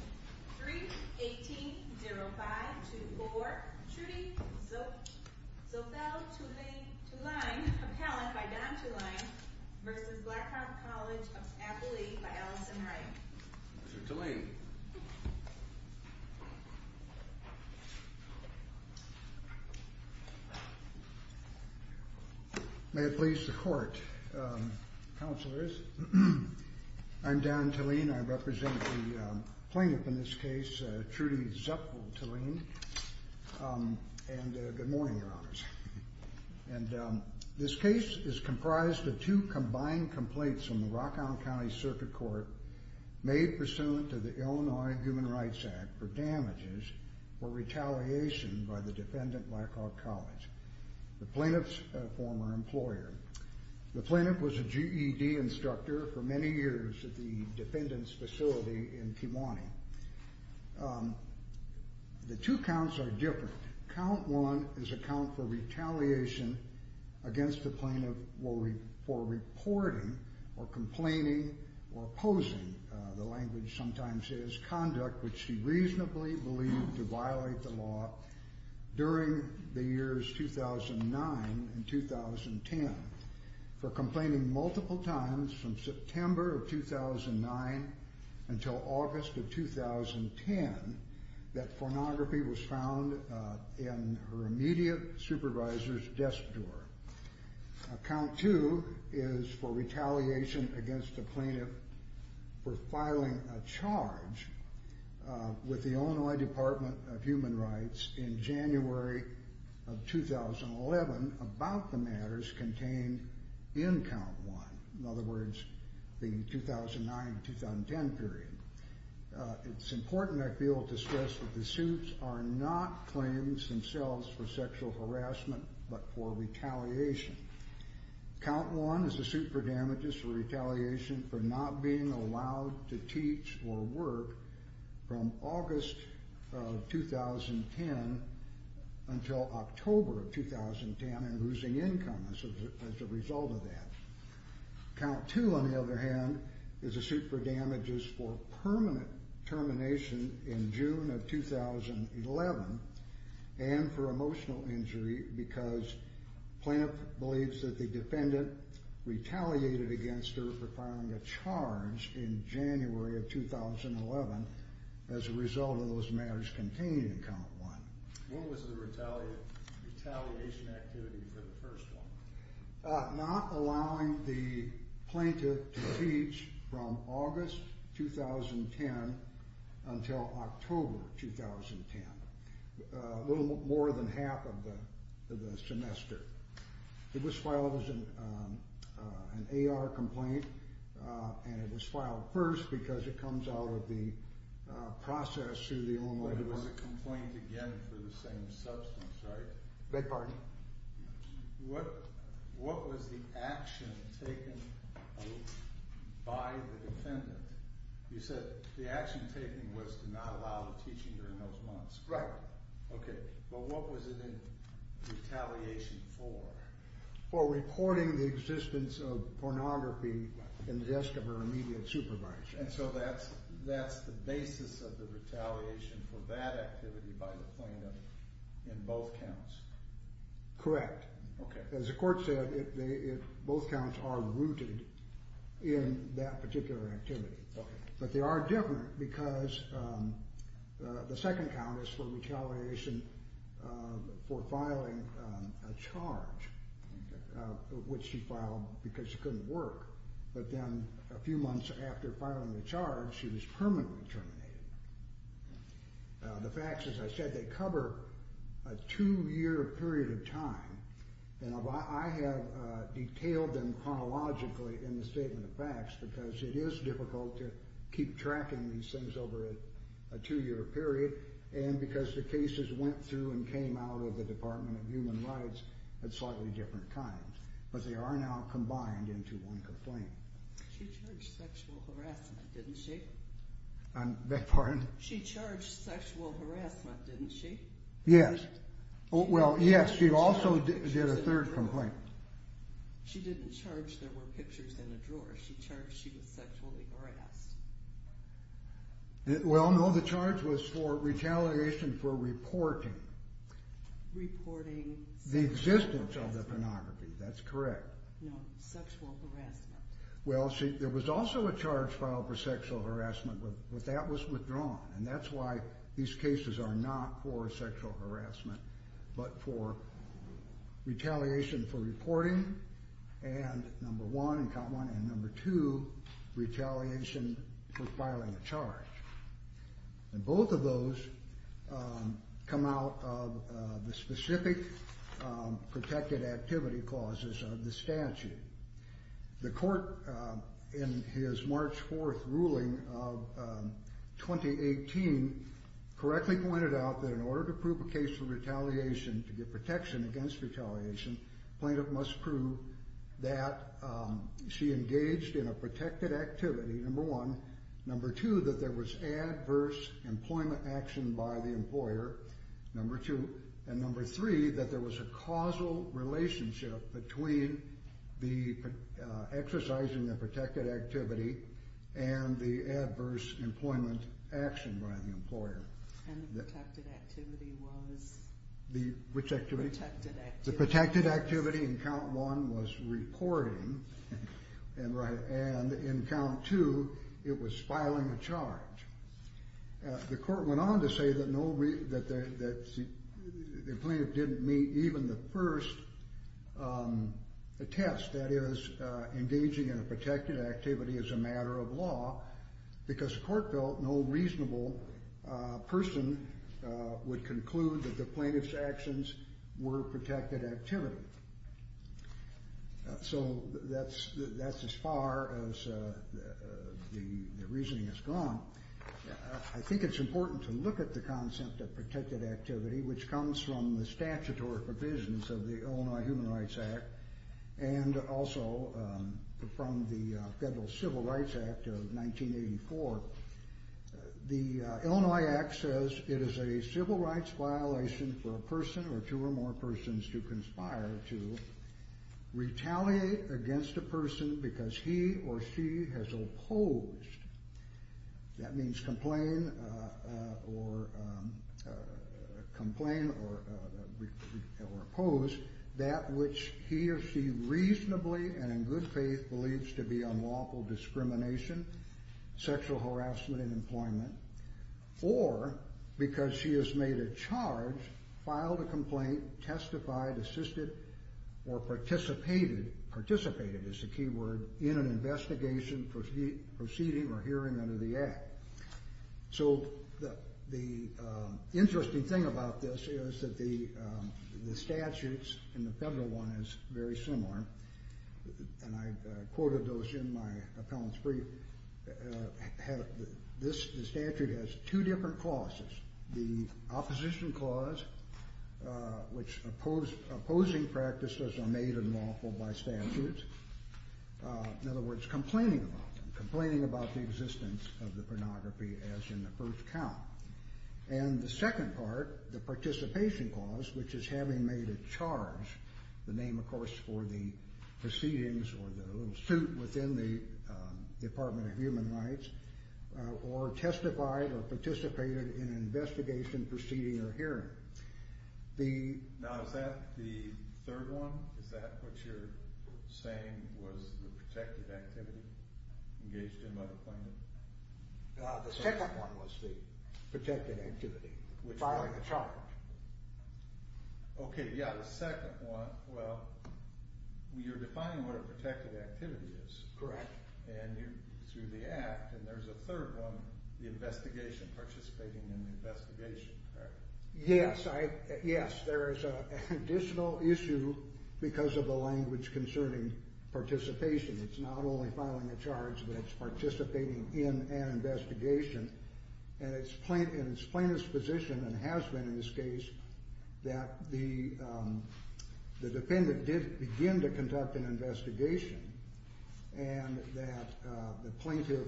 3-18-05-24 Trudy Zoepfel-Thuline, appellant by Don Thuline v. Black Hawk College of Appalachia by Allison Wright May it please the Court, Counselors, I'm Don Thuline, I represent the plaintiff in this case, Trudy Zoepfel-Thuline, and good morning, Your Honors. And this case is comprised of two combined complaints from the Rock Island County Circuit Court made pursuant to the Illinois Human Rights Act for damages for retaliation by the defendant, Black Hawk College. The plaintiff's a former employer. The plaintiff was a GED instructor for many years at the defendant's facility in Kiwani. The two counts are different. Count one is a count for retaliation against the plaintiff for reporting or complaining or opposing, the language sometimes is, conduct which she reasonably believed to violate the law during the years 2009 and 2010. For complaining multiple times from September of 2009 until August of 2010, that pornography was found in her immediate supervisor's desk door. Count two is for retaliation against the plaintiff for filing a charge with the Illinois Department of Human Rights in January of 2011 about the matters contained in count one, in other words, the 2009-2010 period. It's important, I feel, to stress that the suits are not claims themselves for sexual harassment but for retaliation. Count one is a suit for damages for retaliation for not being allowed to teach or work from August of 2010 until October of 2010 and losing income as a result of that. Count two, on the other hand, is a suit for damages for permanent termination in June of 2011 and for emotional injury because plaintiff believes that the defendant retaliated against her for filing a charge in January of 2011 as a result of those matters contained in count one. What was the retaliation activity for the first one? Not allowing the plaintiff to teach from August 2010 until October 2010, a little more than half of the semester. It was filed as an AR complaint and it was filed first because it comes out of the process through the Illinois Department of Human Rights. It was a complaint again for the same substance, right? Beg your pardon? What was the action taken by the defendant? You said the action taken was to not allow the teaching during those months. Right. Okay, but what was it in retaliation for? For reporting the existence of pornography in the desk of her immediate supervisor. And so that's the basis of the retaliation for that activity by the plaintiff in both counts? Correct. Okay. As the court said, both counts are rooted in that particular activity. Okay. But they are different because the second count is for retaliation for filing a charge which she filed because she couldn't work. But then a few months after filing the charge, she was permanently terminated. The facts, as I said, they cover a two-year period of time. And I have detailed them chronologically in the Statement of Facts because it is difficult to keep tracking these things over a two-year period. And because the cases went through and came out of the Department of Human Rights at slightly different times. But they are now combined into one complaint. She charged sexual harassment, didn't she? Pardon? She charged sexual harassment, didn't she? Yes. Well, yes, she also did a third complaint. She didn't charge there were pictures in a drawer. She charged she was sexually harassed. Well, no, the charge was for retaliation for reporting the existence of the pornography. That's correct. No, sexual harassment. Well, see, there was also a charge filed for sexual harassment, but that was withdrawn. And that's why these cases are not for sexual harassment but for retaliation for reporting. And number one, and count one, and number two, retaliation for filing a charge. And both of those come out of the specific protected activity clauses of the statute. The court, in his March 4th ruling of 2018, correctly pointed out that in order to prove a case for retaliation, to get protection against retaliation, the plaintiff must prove that she engaged in a protected activity, number one. Number two, that there was adverse employment action by the employer, number two. And number three, that there was a causal relationship between the exercising of protected activity and the adverse employment action by the employer. And the protected activity was? Which activity? The protected activity. The protected activity in count one was reporting. And in count two, it was filing a charge. The court went on to say that the plaintiff didn't meet even the first test, that is engaging in a protected activity as a matter of law, because the court felt no reasonable person would conclude that the plaintiff's actions were protected activity. So that's as far as the reasoning has gone. I think it's important to look at the concept of protected activity, which comes from the statutory provisions of the Illinois Human Rights Act and also from the Federal Civil Rights Act of 1984. The Illinois Act says it is a civil rights violation for a person or two or more persons to conspire to retaliate against a person because he or she has opposed. That means complain or oppose that which he or she reasonably and in good faith believes to be unlawful discrimination, sexual harassment, and employment, or because she has made a charge, filed a complaint, testified, assisted, or participated, participated is the key word, in an investigation, proceeding, or hearing under the Act. So the interesting thing about this is that the statutes in the Federal one is very similar. And I quoted those in my appellant's brief. This statute has two different clauses. The opposition clause, which opposing practices are made unlawful by statutes. In other words, complaining about them, complaining about the existence of the pornography as in the first count. And the second part, the participation clause, which is having made a charge, the name, of course, for the proceedings or the little suit within the Department of Human Rights, or testified or participated in an investigation, proceeding, or hearing. Now is that the third one? Is that what you're saying was the protective activity engaged in by the plaintiff? The second one was the protective activity, filing a charge. Okay, yeah, the second one, well, you're defining what a protective activity is. Correct. And through the Act, and there's a third one, the investigation, participating in the investigation, correct? Yes, there is an additional issue because of the language concerning participation. It's not only filing a charge, but it's participating in an investigation, and it's plaintiff's position and has been in this case that the defendant did begin to conduct an investigation and that the plaintiff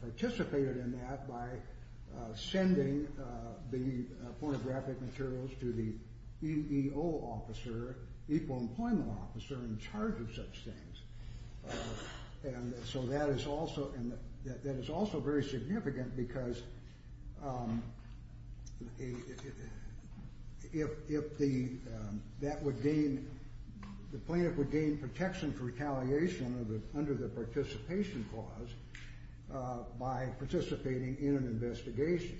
participated in that by sending the pornographic materials to the EEO officer, equal employment officer, in charge of such things. And so that is also very significant because if the plaintiff would gain protection for retaliation under the participation clause by participating in an investigation,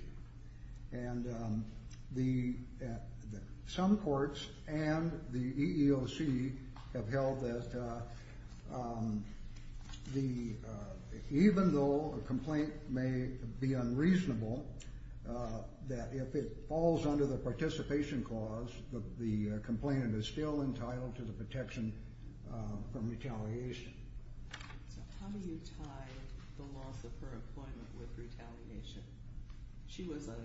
and some courts and the EEOC have held that even though a complaint may be unreasonable, that if it falls under the participation clause, the complainant is still entitled to the protection from retaliation. So how do you tie the loss of her employment with retaliation? She was a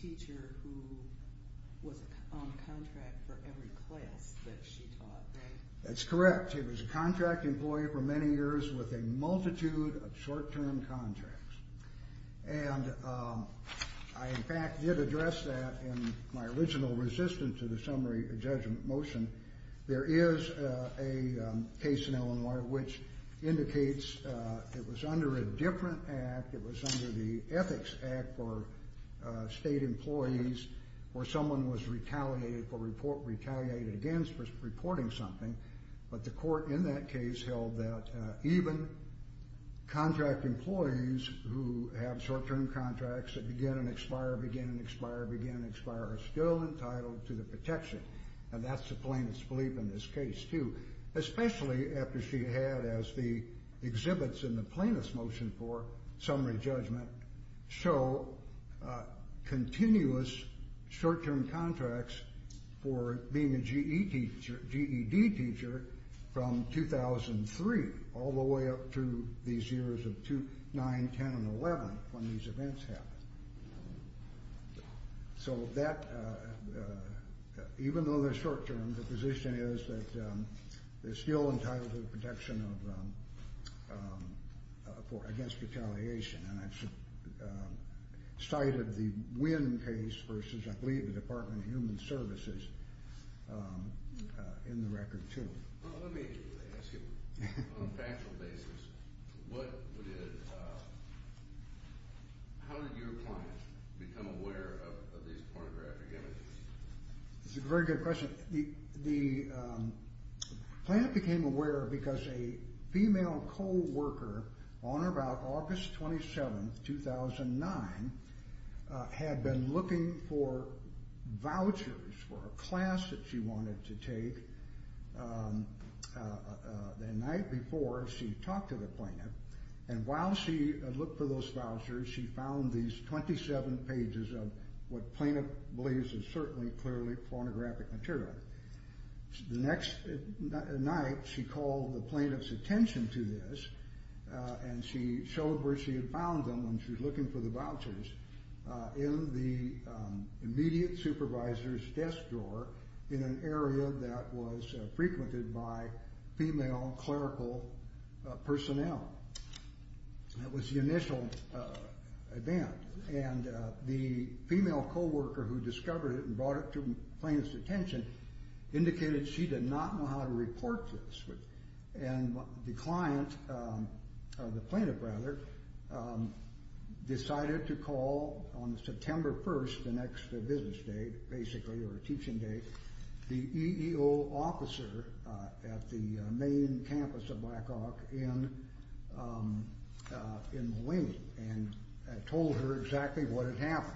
teacher who was on contract for every class that she taught, right? That's correct. She was a contract employee for many years with a multitude of short-term contracts. And I, in fact, did address that in my original resistance to the summary judgment motion. There is a case in Illinois which indicates it was under a different act. It was under the Ethics Act for state employees where someone was retaliated against for reporting something. But the court in that case held that even contract employees who have short-term contracts that begin and expire, begin and expire, begin and expire, are still entitled to the protection. And that's the plaintiff's belief in this case, too, especially after she had, as the exhibits in the plaintiff's motion for summary judgment show, continuous short-term contracts for being a GED teacher from 2003 all the way up through these years of 2009, 10, and 11 when these events happened. So that, even though they're short-term, the position is that they're still entitled to the protection against retaliation. And I've cited the Wynn case versus, I believe, the Department of Human Services in the record, too. Well, let me ask you, on a factual basis, how did your client become aware of these pornographic images? That's a very good question. The plaintiff became aware because a female co-worker on or about August 27, 2009, had been looking for vouchers for a class that she wanted to take the night before she talked to the plaintiff. And while she looked for those vouchers, she found these 27 pages of what the plaintiff believes is certainly clearly pornographic material. The next night, she called the plaintiff's attention to this, and she showed where she had found them when she was looking for the vouchers, in the immediate supervisor's desk drawer in an area that was frequented by female clerical personnel. That was the initial event. And the female co-worker who discovered it and brought it to the plaintiff's attention indicated she did not know how to report this. And the client, or the plaintiff, rather, decided to call on September 1st, the next business day, basically, or teaching day, the EEO officer at the main campus of Blackhawk in Mulaney and told her exactly what had happened.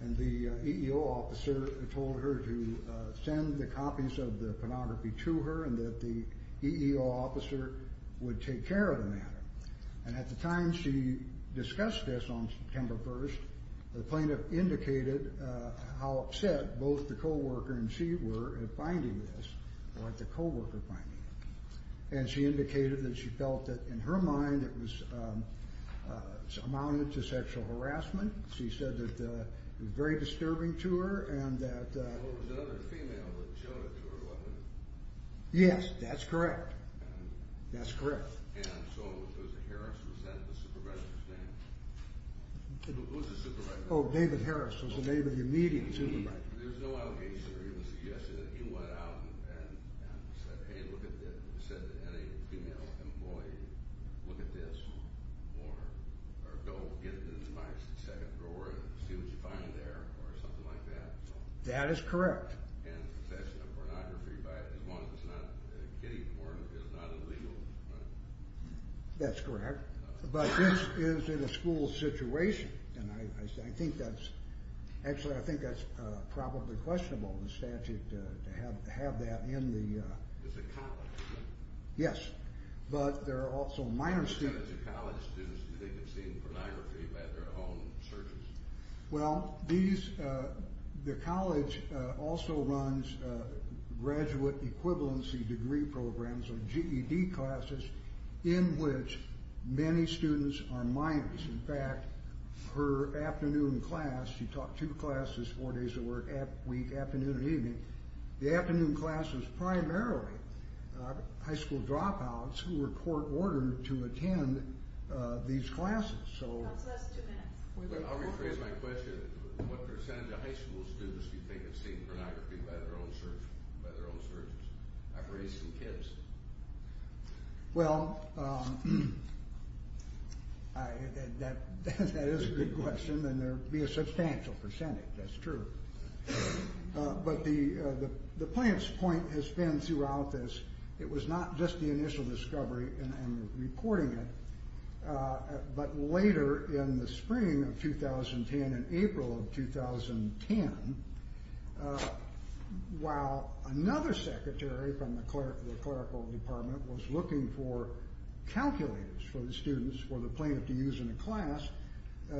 And the EEO officer told her to send the copies of the pornography to her, and that the EEO officer would take care of the matter. And at the time she discussed this on September 1st, the plaintiff indicated how upset both the co-worker and she were at finding this, or at the co-worker finding it. And she indicated that she felt that, in her mind, it amounted to sexual harassment. She said that it was very disturbing to her, and that... Well, there was another female that showed it to her, wasn't there? Yes, that's correct. That's correct. And so it was Harris, was that the supervisor's name? Who was the supervisor? Oh, David Harris was the name of the immediate supervisor. There was no other case where he was suggesting that he went out and said, Hey, look at this. He said to any female employee, look at this. Or go get it in the second drawer and see what you find there, or something like that. That is correct. And possession of pornography, as long as it's not kiddie porn, is not illegal, right? That's correct. But this is in a school situation, and I think that's... It's a college, right? Yes. But there are also minor students. So it's a college. Do they get seen pornography by their own surgeons? Well, these... The college also runs graduate equivalency degree programs, or GED classes, in which many students are minors. In fact, her afternoon class... She taught two classes, four days a week, afternoon and evening. The afternoon class was primarily high school dropouts who were court-ordered to attend these classes. That's less than two minutes. I'll rephrase my question. What percentage of high school students do you think have seen pornography by their own surgeons? I've raised some kids. Well, that is a good question, and there would be a substantial percentage. That's true. But the plaintiff's point has been throughout this. It was not just the initial discovery and reporting it, but later in the spring of 2010 and April of 2010, while another secretary from the clerical department was looking for calculators for the students, for the plaintiff to use in a class,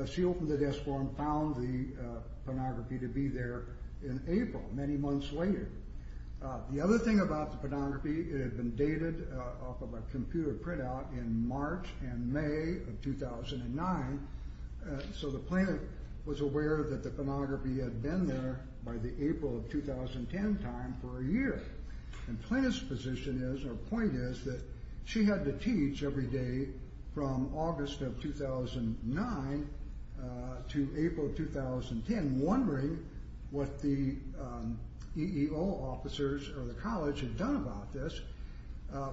she opened the desk for them and found the pornography to be there in April, many months later. The other thing about the pornography, it had been dated off of a computer printout in March and May of 2009, so the plaintiff was aware that the pornography had been there by the April of 2010 time for a year. The plaintiff's point is that she had to teach every day from August of 2009 to April of 2010, wondering what the EEO officers or the college had done about this.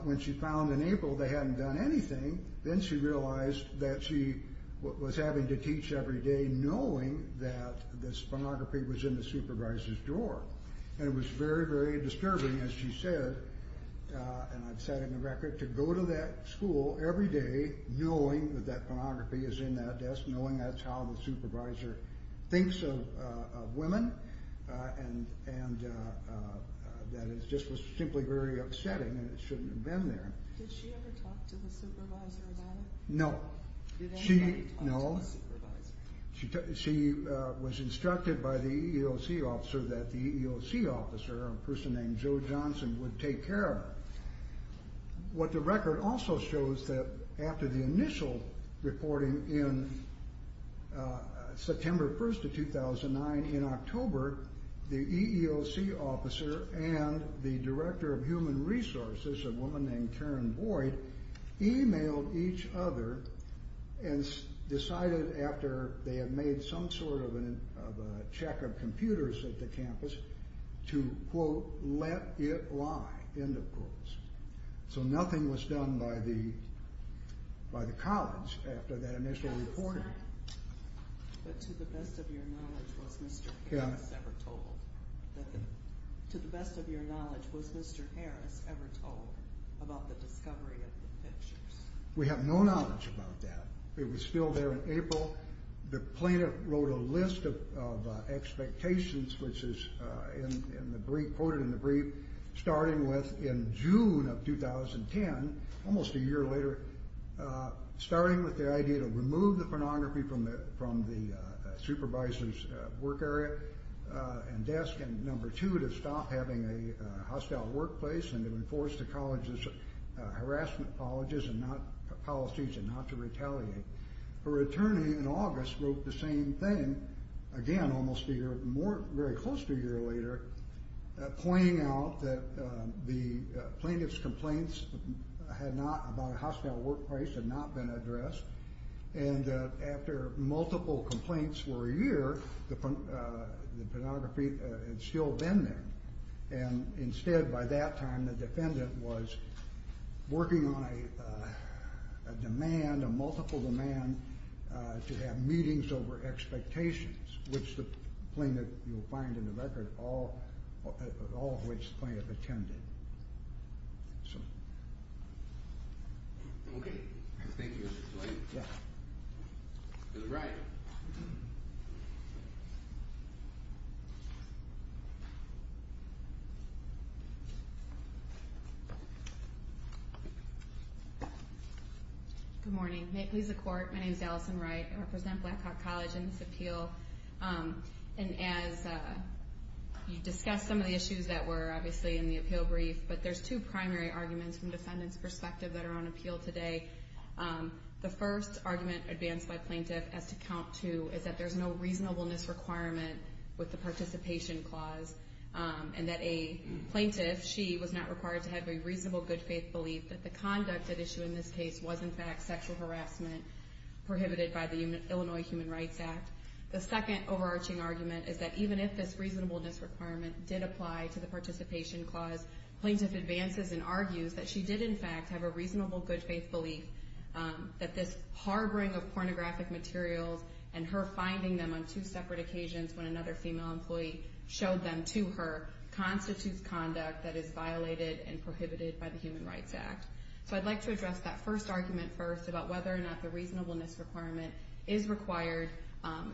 When she found in April they hadn't done anything, then she realized that she was having to teach every day, and it was very, very disturbing, as she said, and I've said in the record, to go to that school every day knowing that that pornography is in that desk, knowing that's how the supervisor thinks of women, and that it just was simply very upsetting and it shouldn't have been there. Did she ever talk to the supervisor about it? No. Did anybody talk to the supervisor? No. She was instructed by the EEOC officer that the EEOC officer, a person named Joe Johnson, would take care of her. What the record also shows that after the initial reporting in September 1st of 2009 in October, the EEOC officer and the director of human resources, a woman named Karen Boyd, emailed each other and decided after they had made some sort of a check of computers at the campus to, quote, let it lie, end of quotes. So nothing was done by the college after that initial reporting. But to the best of your knowledge, was Mr. Harris ever told about the discovery of the pictures? We have no knowledge about that. It was still there in April. The plaintiff wrote a list of expectations, which is quoted in the brief, starting with in June of 2010, almost a year later, starting with the idea to remove the pornography from the supervisor's work area and desk, and, number two, to stop having a hostile workplace and to enforce the college's harassment policies and not to retaliate. Her attorney in August wrote the same thing, again, almost a year, very close to a year later, pointing out that the plaintiff's complaints about a hostile workplace had not been addressed and that after multiple complaints for a year, the pornography had still been there. And instead, by that time, the defendant was working on a demand, a multiple demand to have meetings over expectations, which the plaintiff, you'll find in the record, all of which the plaintiff attended. Okay. Thank you, Mr. White. Ms. Wright. Good morning. May it please the Court, my name is Allison Wright. I represent Black Hawk College in this appeal. And as you discussed some of the issues that were obviously in the appeal brief, but there's two primary arguments from defendant's perspective that are on appeal today. The first argument advanced by plaintiff as to count to is that there's no reasonableness requirement with the participation clause and that a plaintiff, she, was not required to have a reasonable good faith belief that the conduct at issue in this case was in fact sexual harassment prohibited by the Illinois Human Rights Act. The second overarching argument is that even if this reasonableness requirement did apply to the participation clause, plaintiff advances and argues that she did in fact have a reasonable good faith belief that this harboring of pornographic materials and her finding them on two separate occasions when another female employee showed them to her So I'd like to address that first argument first about whether or not the reasonableness requirement is required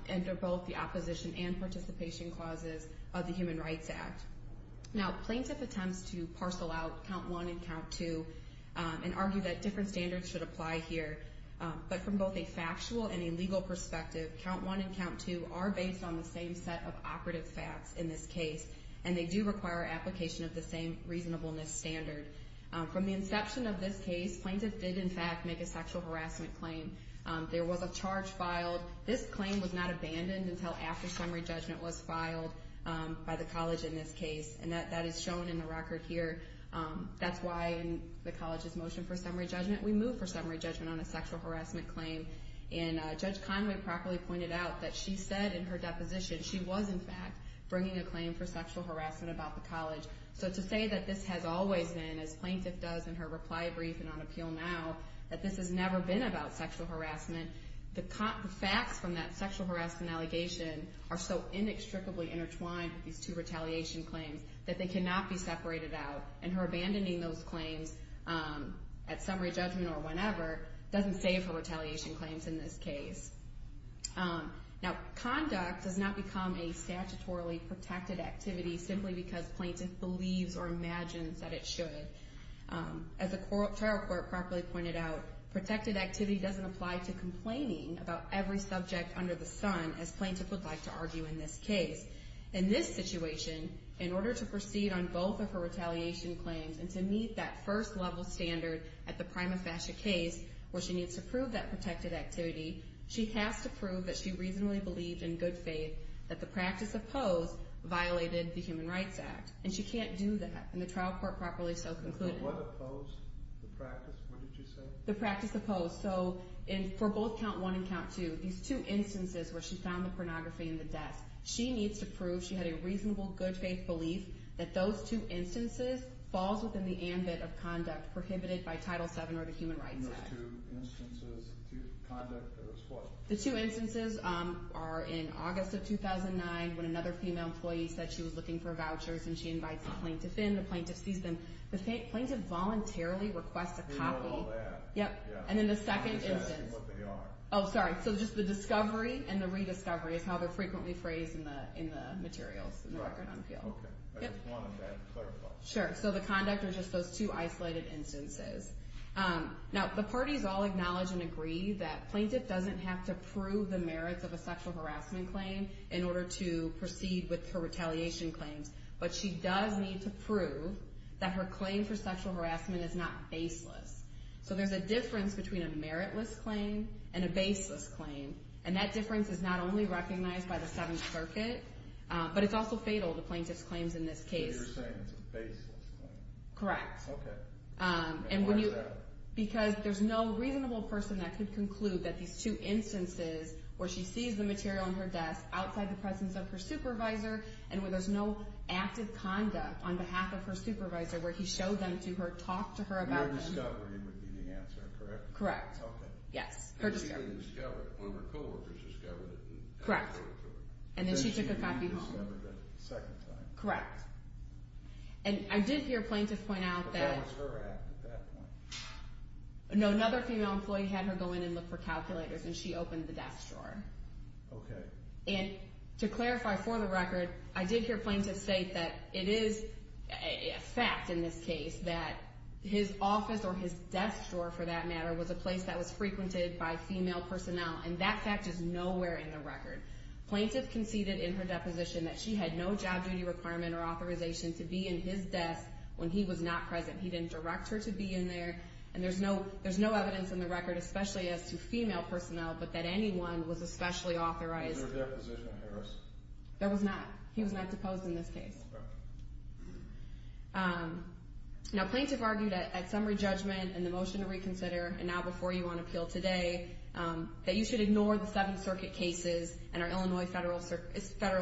under both the opposition and participation clauses of the Human Rights Act. Now plaintiff attempts to parcel out count one and count two and argue that different standards should apply here. But from both a factual and a legal perspective, count one and count two are based on the same set of operative facts in this case and they do require application of the same reasonableness standard. From the inception of this case, plaintiff did in fact make a sexual harassment claim. There was a charge filed. This claim was not abandoned until after summary judgment was filed by the college in this case. And that is shown in the record here. That's why in the college's motion for summary judgment, we moved for summary judgment on a sexual harassment claim. And Judge Conway properly pointed out that she said in her deposition she was in fact bringing a claim for sexual harassment about the college. So to say that this has always been, as plaintiff does in her reply brief and on appeal now, that this has never been about sexual harassment, the facts from that sexual harassment allegation are so inextricably intertwined with these two retaliation claims that they cannot be separated out. And her abandoning those claims at summary judgment or whenever doesn't save her retaliation claims in this case. Now conduct does not become a statutorily protected activity simply because plaintiff believes or imagines that it should. As the trial court properly pointed out, protected activity doesn't apply to complaining about every subject under the sun, as plaintiff would like to argue in this case. In this situation, in order to proceed on both of her retaliation claims and to meet that first level standard at the prima facie case where she needs to prove that protected activity, she has to prove that she reasonably believed in good faith that the practice opposed violated the Human Rights Act. And she can't do that. And the trial court properly so concluded... What opposed the practice? What did you say? The practice opposed. So for both count one and count two, these two instances where she found the pornography in the desk, she needs to prove she had a reasonable good faith belief that those two instances falls within the ambit of conduct prohibited by Title VII or the Human Rights Act. Those two instances, the two conduct, those what? The two instances are in August of 2009 when another female employee said she was looking for vouchers and she invites the plaintiff in. The plaintiff sees them. The plaintiff voluntarily requests a copy. We know all that. And then the second instance... I'm just asking what they are. Oh, sorry. So just the discovery and the rediscovery is how they're frequently phrased in the materials in the record on appeal. Okay. I just wanted that clarified. Sure. So the conduct are just those two isolated instances. Now, the parties all acknowledge and agree that plaintiff doesn't have to prove the merits of a sexual harassment claim in order to proceed with her retaliation claims, but she does need to prove that her claim for sexual harassment is not baseless. So there's a difference between a meritless claim and a baseless claim, and that difference is not only recognized by the Seventh Circuit, but it's also fatal to plaintiff's claims in this case. So you're saying it's a baseless claim. Correct. Okay. And why is that? Because there's no reasonable person that could conclude that these two instances where she sees the material on her desk outside the presence of her supervisor and where there's no active conduct on behalf of her supervisor where he showed them to her, talked to her about them. Her discovery would be the answer, correct? Correct. Okay. Yes, her discovery. When her co-workers discovered it. Correct. And then she took a copy home. Second time. Correct. And I did hear plaintiffs point out that... No, another female employee had her go in and look for calculators, and she opened the desk drawer. Okay. And to clarify for the record, I did hear plaintiffs state that it is a fact in this case that his office or his desk drawer, for that matter, was a place that was frequented by female personnel, and that fact is nowhere in the record. Plaintiff conceded in her deposition that she had no job duty requirement or authorization to be in his desk when he was not present. He didn't direct her to be in there. And there's no evidence in the record, especially as to female personnel, but that anyone was especially authorized. Was there a deposition of hers? There was not. He was not deposed in this case. Okay. Now, plaintiff argued at summary judgment and the motion to reconsider, and now before you on appeal today, that you should ignore the Seventh Circuit cases and our Illinois Federal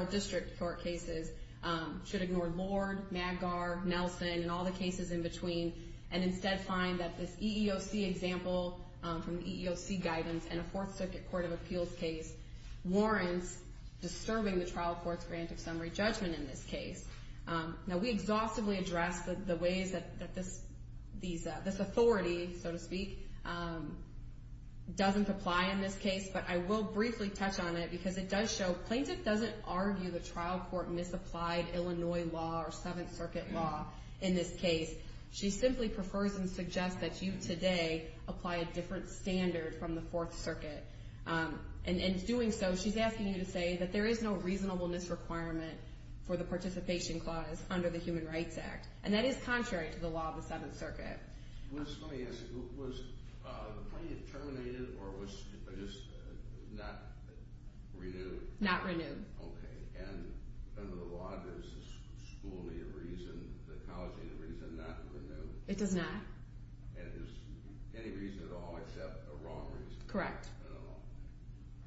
District Court cases. You should ignore Lord, Maggar, Nelson, and all the cases in between, and instead find that this EEOC example from the EEOC guidance and a Fourth Circuit court of appeals case warrants disturbing the trial court's grant of summary judgment in this case. Now, we exhaustively address the ways that this authority, so to speak, doesn't apply in this case, but I will briefly touch on it because it does show that our plaintiff doesn't argue the trial court misapplied Illinois law or Seventh Circuit law in this case. She simply prefers and suggests that you today apply a different standard from the Fourth Circuit. In doing so, she's asking you to say that there is no reasonableness requirement for the participation clause under the Human Rights Act, and that is contrary to the law of the Seventh Circuit. Okay. Let me ask you, was the plaintiff terminated or was just not renewed? Not renewed. Okay. And under the law, there's a school year reason, the college year reason not to renew? It does not. And there's any reason at all except a wrong reason? Correct. At all.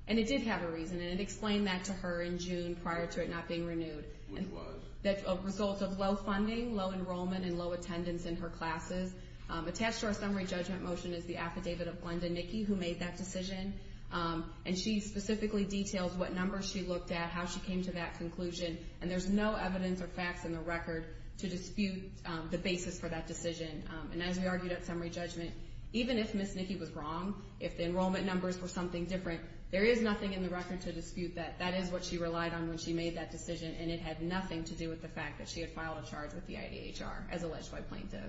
And it did have a reason, and it explained that to her in June prior to it not being renewed. Which was? That's a result of low funding, low enrollment, and low attendance in her classes. Attached to our summary judgment motion is the affidavit of Glenda Nicky, who made that decision. And she specifically details what numbers she looked at, how she came to that conclusion. And there's no evidence or facts in the record to dispute the basis for that decision. And as we argued at summary judgment, even if Ms. Nicky was wrong, if the enrollment numbers were something different, there is nothing in the record to dispute that. That is what she relied on when she made that decision, and it had nothing to do with the fact that she had filed a charge with the IDHR, as alleged by plaintiff.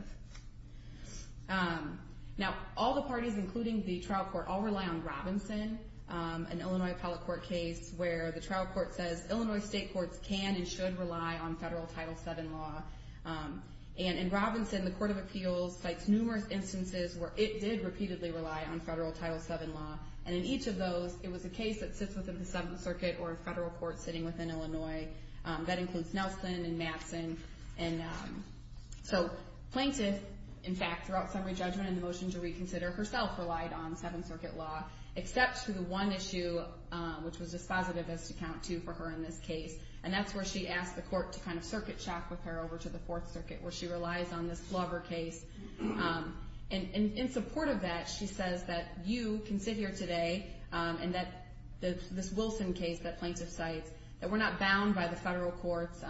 Now, all the parties, including the trial court, all rely on Robinson, an Illinois appellate court case where the trial court says, Illinois state courts can and should rely on federal Title VII law. And in Robinson, the Court of Appeals cites numerous instances where it did repeatedly rely on federal Title VII law. And in each of those, it was a case that sits within the Seventh Circuit or a federal court sitting within Illinois. That includes Nelson and Matson. And so plaintiff, in fact, throughout summary judgment and the motion to reconsider, herself relied on Seventh Circuit law, except for the one issue, which was dispositivist, to count to for her in this case. And that's where she asked the court to kind of circuit shop with her over to the Fourth Circuit, where she relies on this Glover case. And in support of that, she says that you can sit here today and that this Wilson case that plaintiff cites, that we're not bound by the federal courts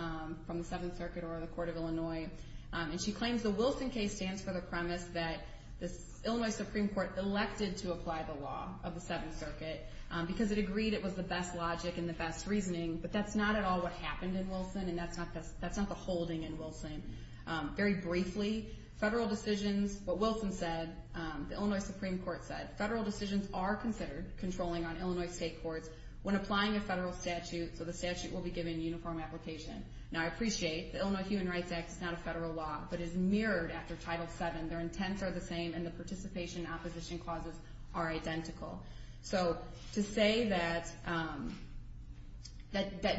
from the Seventh Circuit or the Court of Illinois. And she claims the Wilson case stands for the premise that the Illinois Supreme Court elected to apply the law of the Seventh Circuit because it agreed it was the best logic and the best reasoning, but that's not at all what happened in Wilson, and that's not the holding in Wilson. Very briefly, federal decisions, what Wilson said, the Illinois Supreme Court said, that federal decisions are considered controlling on Illinois state courts when applying a federal statute, so the statute will be given uniform application. Now, I appreciate the Illinois Human Rights Act is not a federal law, but is mirrored after Title VII. Their intents are the same, and the participation and opposition clauses are identical. So to say that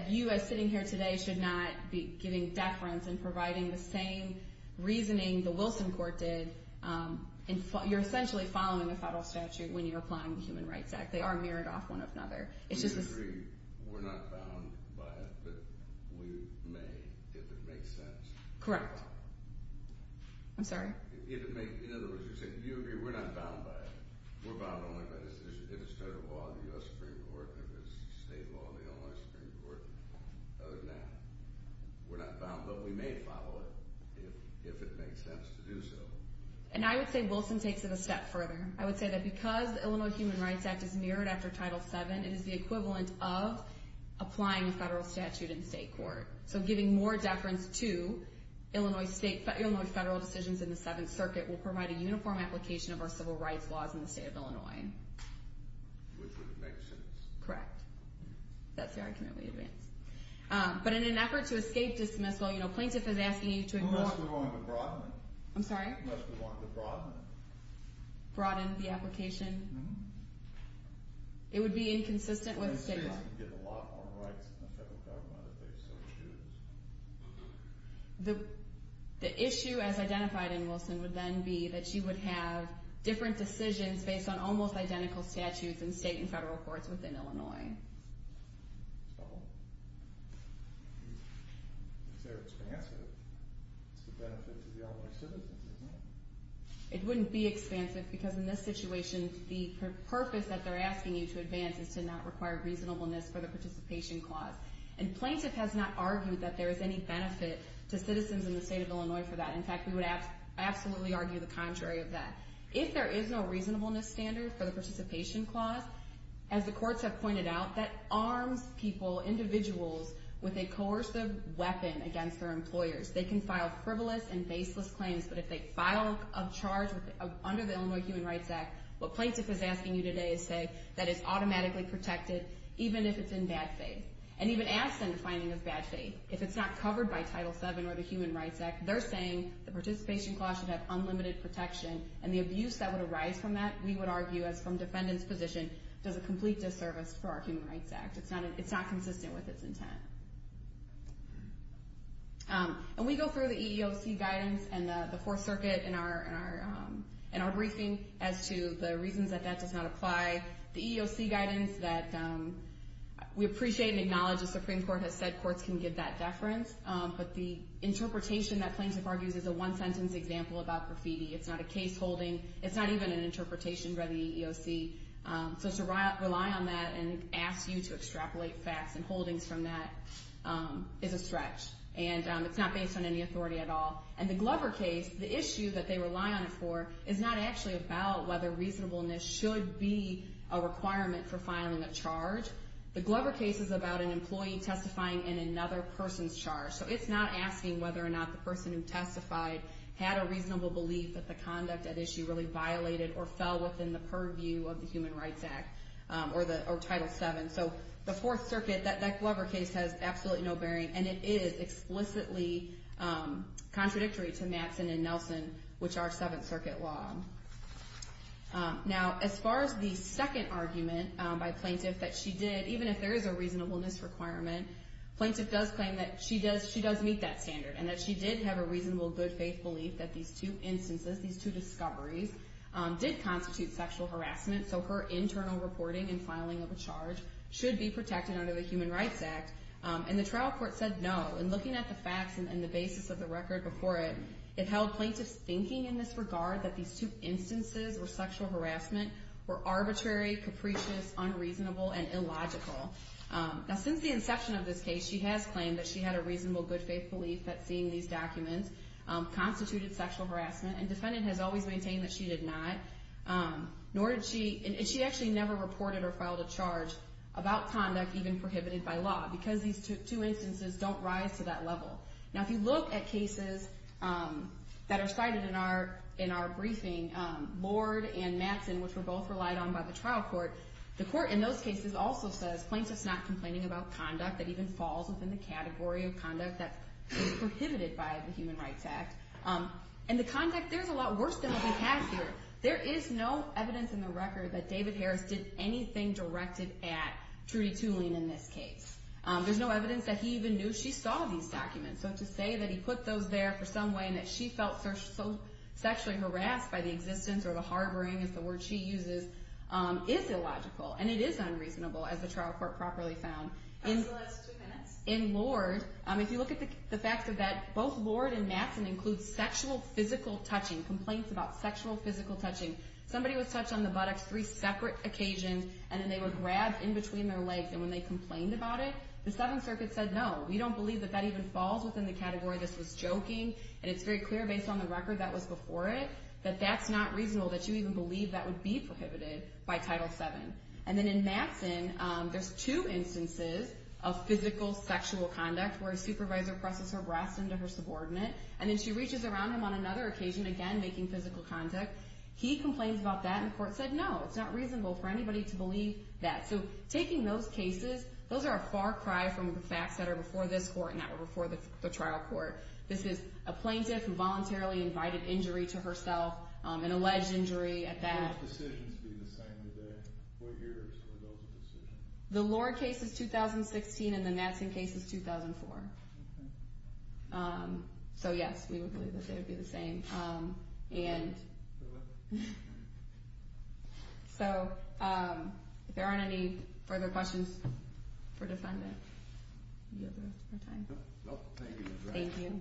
you, as sitting here today, should not be giving deference and providing the same reasoning the Wilson court did, you're essentially following the federal statute when you're applying the Human Rights Act. They are mirrored off one another. You agree we're not bound by it, but we may, if it makes sense. Correct. I'm sorry? In other words, you're saying you agree we're not bound by it, we're bound only by this decision. If it's federal law, the U.S. Supreme Court, if it's state law, the Illinois Supreme Court. Other than that, we're not bound, but we may follow it if it makes sense to do so. And I would say Wilson takes it a step further. I would say that because the Illinois Human Rights Act is mirrored after Title VII, it is the equivalent of applying a federal statute in state court. So giving more deference to Illinois federal decisions in the Seventh Circuit will provide a uniform application of our civil rights laws in the state of Illinois. Which would make sense. Correct. That's the argument we advance. But in an effort to escape dismissal, you know, plaintiff is asking you to ignore— I'm sorry? Unless we wanted to broaden it. Broaden the application? It would be inconsistent with state law. States can get a lot more rights than the federal government if they so choose. The issue, as identified in Wilson, would then be that she would have different decisions based on almost identical statutes in state and federal courts within Illinois. So, if they're expansive, it's a benefit to the Illinois citizens, isn't it? It wouldn't be expansive because in this situation the purpose that they're asking you to advance is to not require reasonableness for the participation clause. And plaintiff has not argued that there is any benefit to citizens in the state of Illinois for that. In fact, we would absolutely argue the contrary of that. If there is no reasonableness standard for the participation clause, as the courts have pointed out, that arms people, individuals, with a coercive weapon against their employers. They can file frivolous and baseless claims, but if they file a charge under the Illinois Human Rights Act, what plaintiff is asking you today is say that it's automatically protected even if it's in bad faith. And even ask them to find it in bad faith. If it's not covered by Title VII or the Human Rights Act, they're saying the participation clause should have unlimited protection. And the abuse that would arise from that, we would argue, as from defendant's position, does a complete disservice for our Human Rights Act. It's not consistent with its intent. And we go through the EEOC guidance and the Fourth Circuit in our briefing as to the reasons that that does not apply. The EEOC guidance that we appreciate and acknowledge the Supreme Court has said courts can give that deference. But the interpretation that plaintiff argues is a one-sentence example about graffiti. It's not a case holding. It's not even an interpretation by the EEOC. So to rely on that and ask you to extrapolate facts and holdings from that is a stretch. And it's not based on any authority at all. And the Glover case, the issue that they rely on it for, is not actually about whether reasonableness should be a requirement for filing a charge. The Glover case is about an employee testifying in another person's charge. So it's not asking whether or not the person who testified had a reasonable belief that the conduct at issue really violated or fell within the purview of the Human Rights Act or Title VII. So the Fourth Circuit, that Glover case, has absolutely no bearing. And it is explicitly contradictory to Matson and Nelson, which are Seventh Circuit law. Now, as far as the second argument by plaintiff that she did, even if there is a reasonableness requirement, plaintiff does claim that she does meet that standard and that she did have a reasonable good faith belief that these two instances, these two discoveries, did constitute sexual harassment. So her internal reporting and filing of a charge should be protected under the Human Rights Act. And the trial court said no. And looking at the facts and the basis of the record before it, it held plaintiffs thinking in this regard that these two instances or sexual harassment were arbitrary, capricious, unreasonable, and illogical. Now, since the inception of this case, she has claimed that she had a reasonable good faith belief that seeing these documents constituted sexual harassment. And defendant has always maintained that she did not, and she actually never reported or filed a charge about conduct even prohibited by law because these two instances don't rise to that level. Now, if you look at cases that are cited in our briefing, Lord and Matson, which were both relied on by the trial court, the court in those cases also says plaintiffs not complaining about conduct that even falls within the category of conduct that is prohibited by the Human Rights Act. And the conduct there is a lot worse than what we have here. There is no evidence in the record that David Harris did anything directed at Trudy Tulin in this case. There's no evidence that he even knew she saw these documents. So to say that he put those there for some way and that she felt sexually harassed by the existence or the harboring, as the word she uses, is illogical. And it is unreasonable, as the trial court properly found. In Lord, if you look at the facts of that, both Lord and Matson include sexual physical touching, complaints about sexual physical touching. Somebody was touched on the buttocks three separate occasions, and then they were grabbed in between their legs. And when they complained about it, the Seventh Circuit said, no, we don't believe that that even falls within the category. This was joking, and it's very clear based on the record that was before it that that's not reasonable, that you even believe that would be prohibited by Title VII. And then in Matson, there's two instances of physical sexual conduct where a supervisor presses her breast into her subordinate, and then she reaches around him on another occasion, again making physical contact. He complains about that, and the court said, no, it's not reasonable for anybody to believe that. So taking those cases, those are a far cry from the facts that are before this court and that were before the trial court. This is a plaintiff who voluntarily invited injury to herself, an alleged injury at that. Would those decisions be the same today? What years were those decisions? The Lord case is 2016, and the Matson case is 2004. Okay. So, yes, we would believe that they would be the same. And so if there aren't any further questions for defendants, we have the rest of our time. Thank you.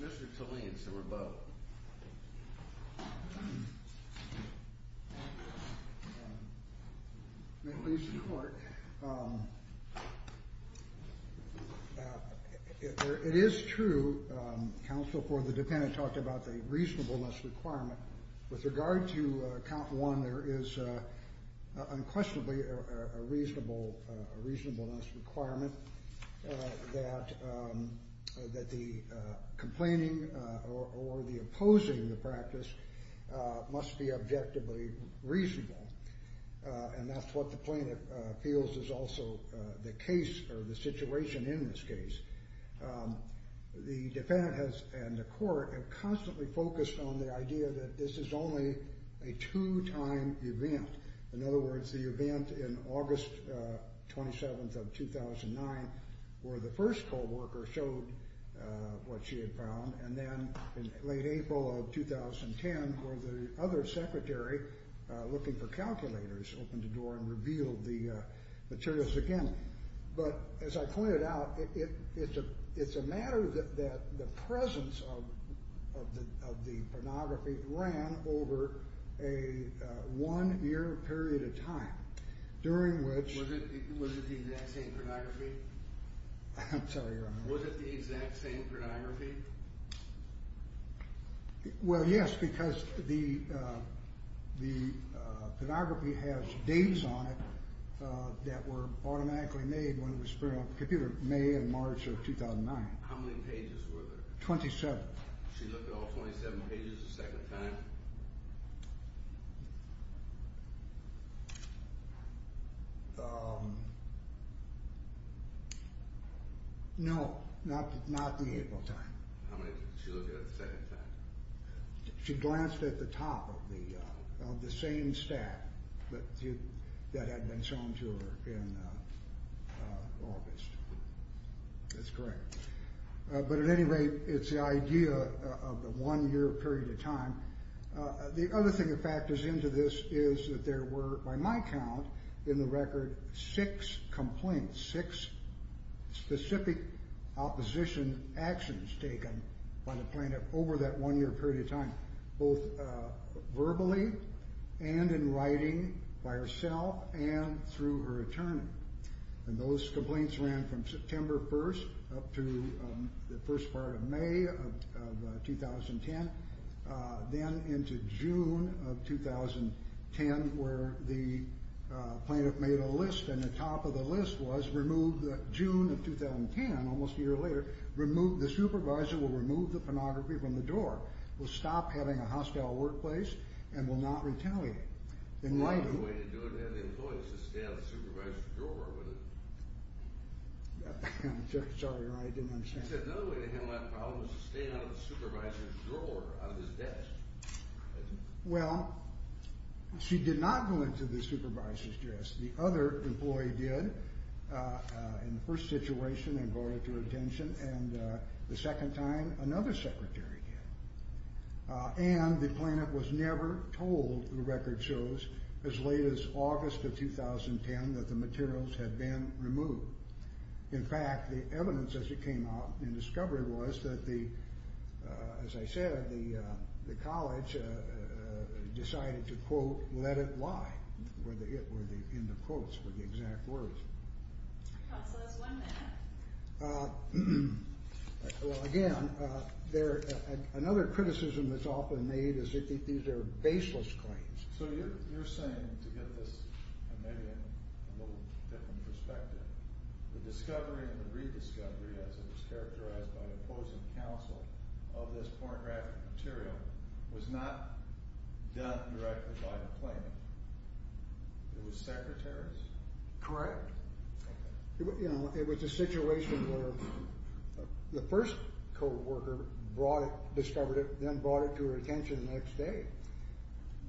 Mr. Tolleen, sir, or both. May it please the Court. It is true, counsel for the defendant talked about the reasonableness requirement. With regard to count one, there is unquestionably a reasonableness requirement that the complaining or the opposing the practice must be objectively reasonable. And that's what the plaintiff feels is also the case or the situation in this case. The defendant and the court have constantly focused on the idea that this is only a two-time event. In other words, the event in August 27th of 2009 where the first co-worker showed what she had found, and then in late April of 2010 where the other secretary, looking for calculators, opened the door and revealed the materials again. But as I pointed out, it's a matter that the presence of the pornography ran over a one-year period of time during which Was it the exact same pornography? I'm sorry, Your Honor. Was it the exact same pornography? Well, yes, because the pornography has dates on it that were automatically made when it was printed on the computer in May and March of 2009. How many pages were there? Twenty-seven. She looked at all 27 pages the second time? No, not the April time. How many did she look at the second time? She glanced at the top of the same stack that had been shown to her in August. That's correct. But at any rate, it's the idea of the one-year period of time The other thing that factors into this is that there were, by my count, in the record six complaints, six specific opposition actions taken by the plaintiff over that one-year period of time, both verbally and in writing by herself and through her attorney. And those complaints ran from September 1st up to the first part of May of 2010. Then into June of 2010, where the plaintiff made a list, and the top of the list was, June of 2010, almost a year later, the supervisor will remove the pornography from the drawer, will stop having a hostile workplace, and will not retaliate. The only way to do it is to have the employees stay out of the supervisor's drawer. I'm sorry, Your Honor, I didn't understand. She said another way to handle that problem is to stay out of the supervisor's drawer, out of his desk. Well, she did not go into the supervisor's desk. The other employee did in the first situation and brought it to her attention, and the second time another secretary did. And the plaintiff was never told, the record shows, as late as August of 2010, that the materials had been removed. In fact, the evidence as it came out in discovery was that, as I said, the college decided to, quote, let it lie, where the end of quotes were the exact words. Counsel, there's one more. Well, again, another criticism that's often made is that these are baseless claims. So you're saying, to get this maybe in a little different perspective, the discovery and the rediscovery, as it was characterized by the opposing counsel, of this pornographic material was not done directly by the plaintiff. It was secretary's? Correct. You know, it was a situation where the first coworker brought it, discovered it, then brought it to her attention the next day.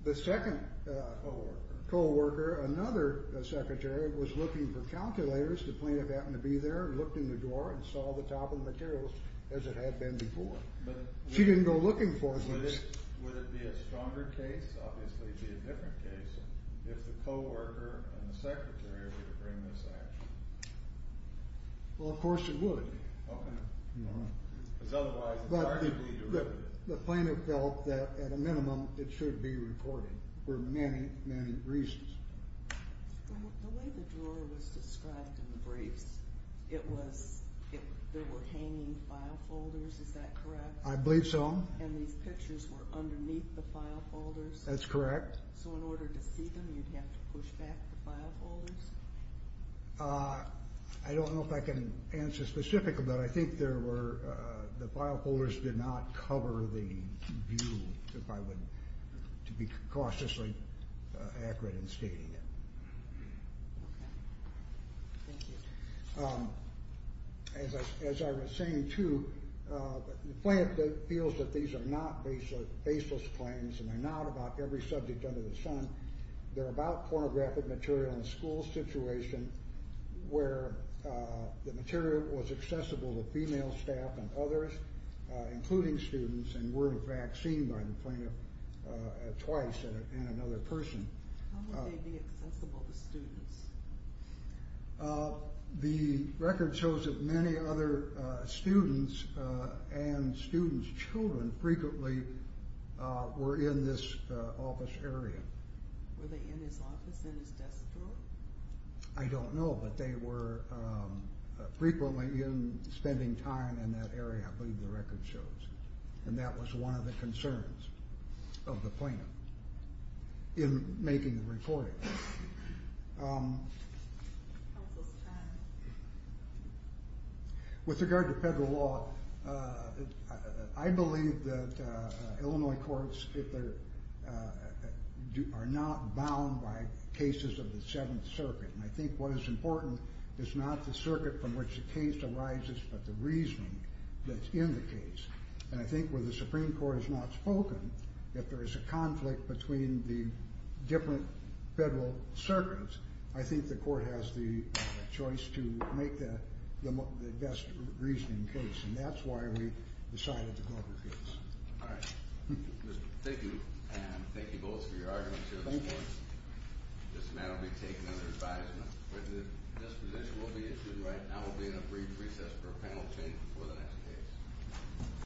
The second coworker, another secretary, was looking for calculators. The plaintiff happened to be there and looked in the drawer and saw the top of the materials as it had been before. She didn't go looking for them. Would it be a stronger case? Obviously, it would be a different case if the coworker and the secretary were to bring this action. Well, of course it would. Because otherwise it's arguably derivative. The plaintiff felt that, at a minimum, it should be recorded for many, many reasons. The way the drawer was described in the briefs, there were hanging file folders. Is that correct? I believe so. And these pictures were underneath the file folders? That's correct. So in order to see them, you'd have to push back the file folders? I don't know if I can answer specifically, but I think the file folders did not cover the view, if I were to be cautiously accurate in stating it. Thank you. As I was saying, too, the plaintiff feels that these are not baseless claims and they're not about every subject under the sun. They're about pornographic material in a school situation where the material was accessible to female staff and others, including students, and were, in fact, seen by the plaintiff twice in another person. How would they be accessible to students? The record shows that many other students and students' children frequently were in this office area. Were they in his office, in his desk drawer? I don't know, but they were frequently spending time in that area, I believe the record shows, and that was one of the concerns of the plaintiff in making the reporting. Counsel's time. With regard to federal law, I believe that Illinois courts are not bound by cases of the Seventh Circuit, and I think what is important is not the circuit from which the case arises but the reasoning that's in the case, and I think where the Supreme Court has not spoken, if there is a conflict between the different federal circuits, I think the court has the choice to make the best reasoning case, and that's why we decided to go with this. All right. Thank you, and thank you both for your arguments here. Thank you. This matter will be taken under advisement. This position will be issued right now. It will be in a brief recess for a panel change before the next case.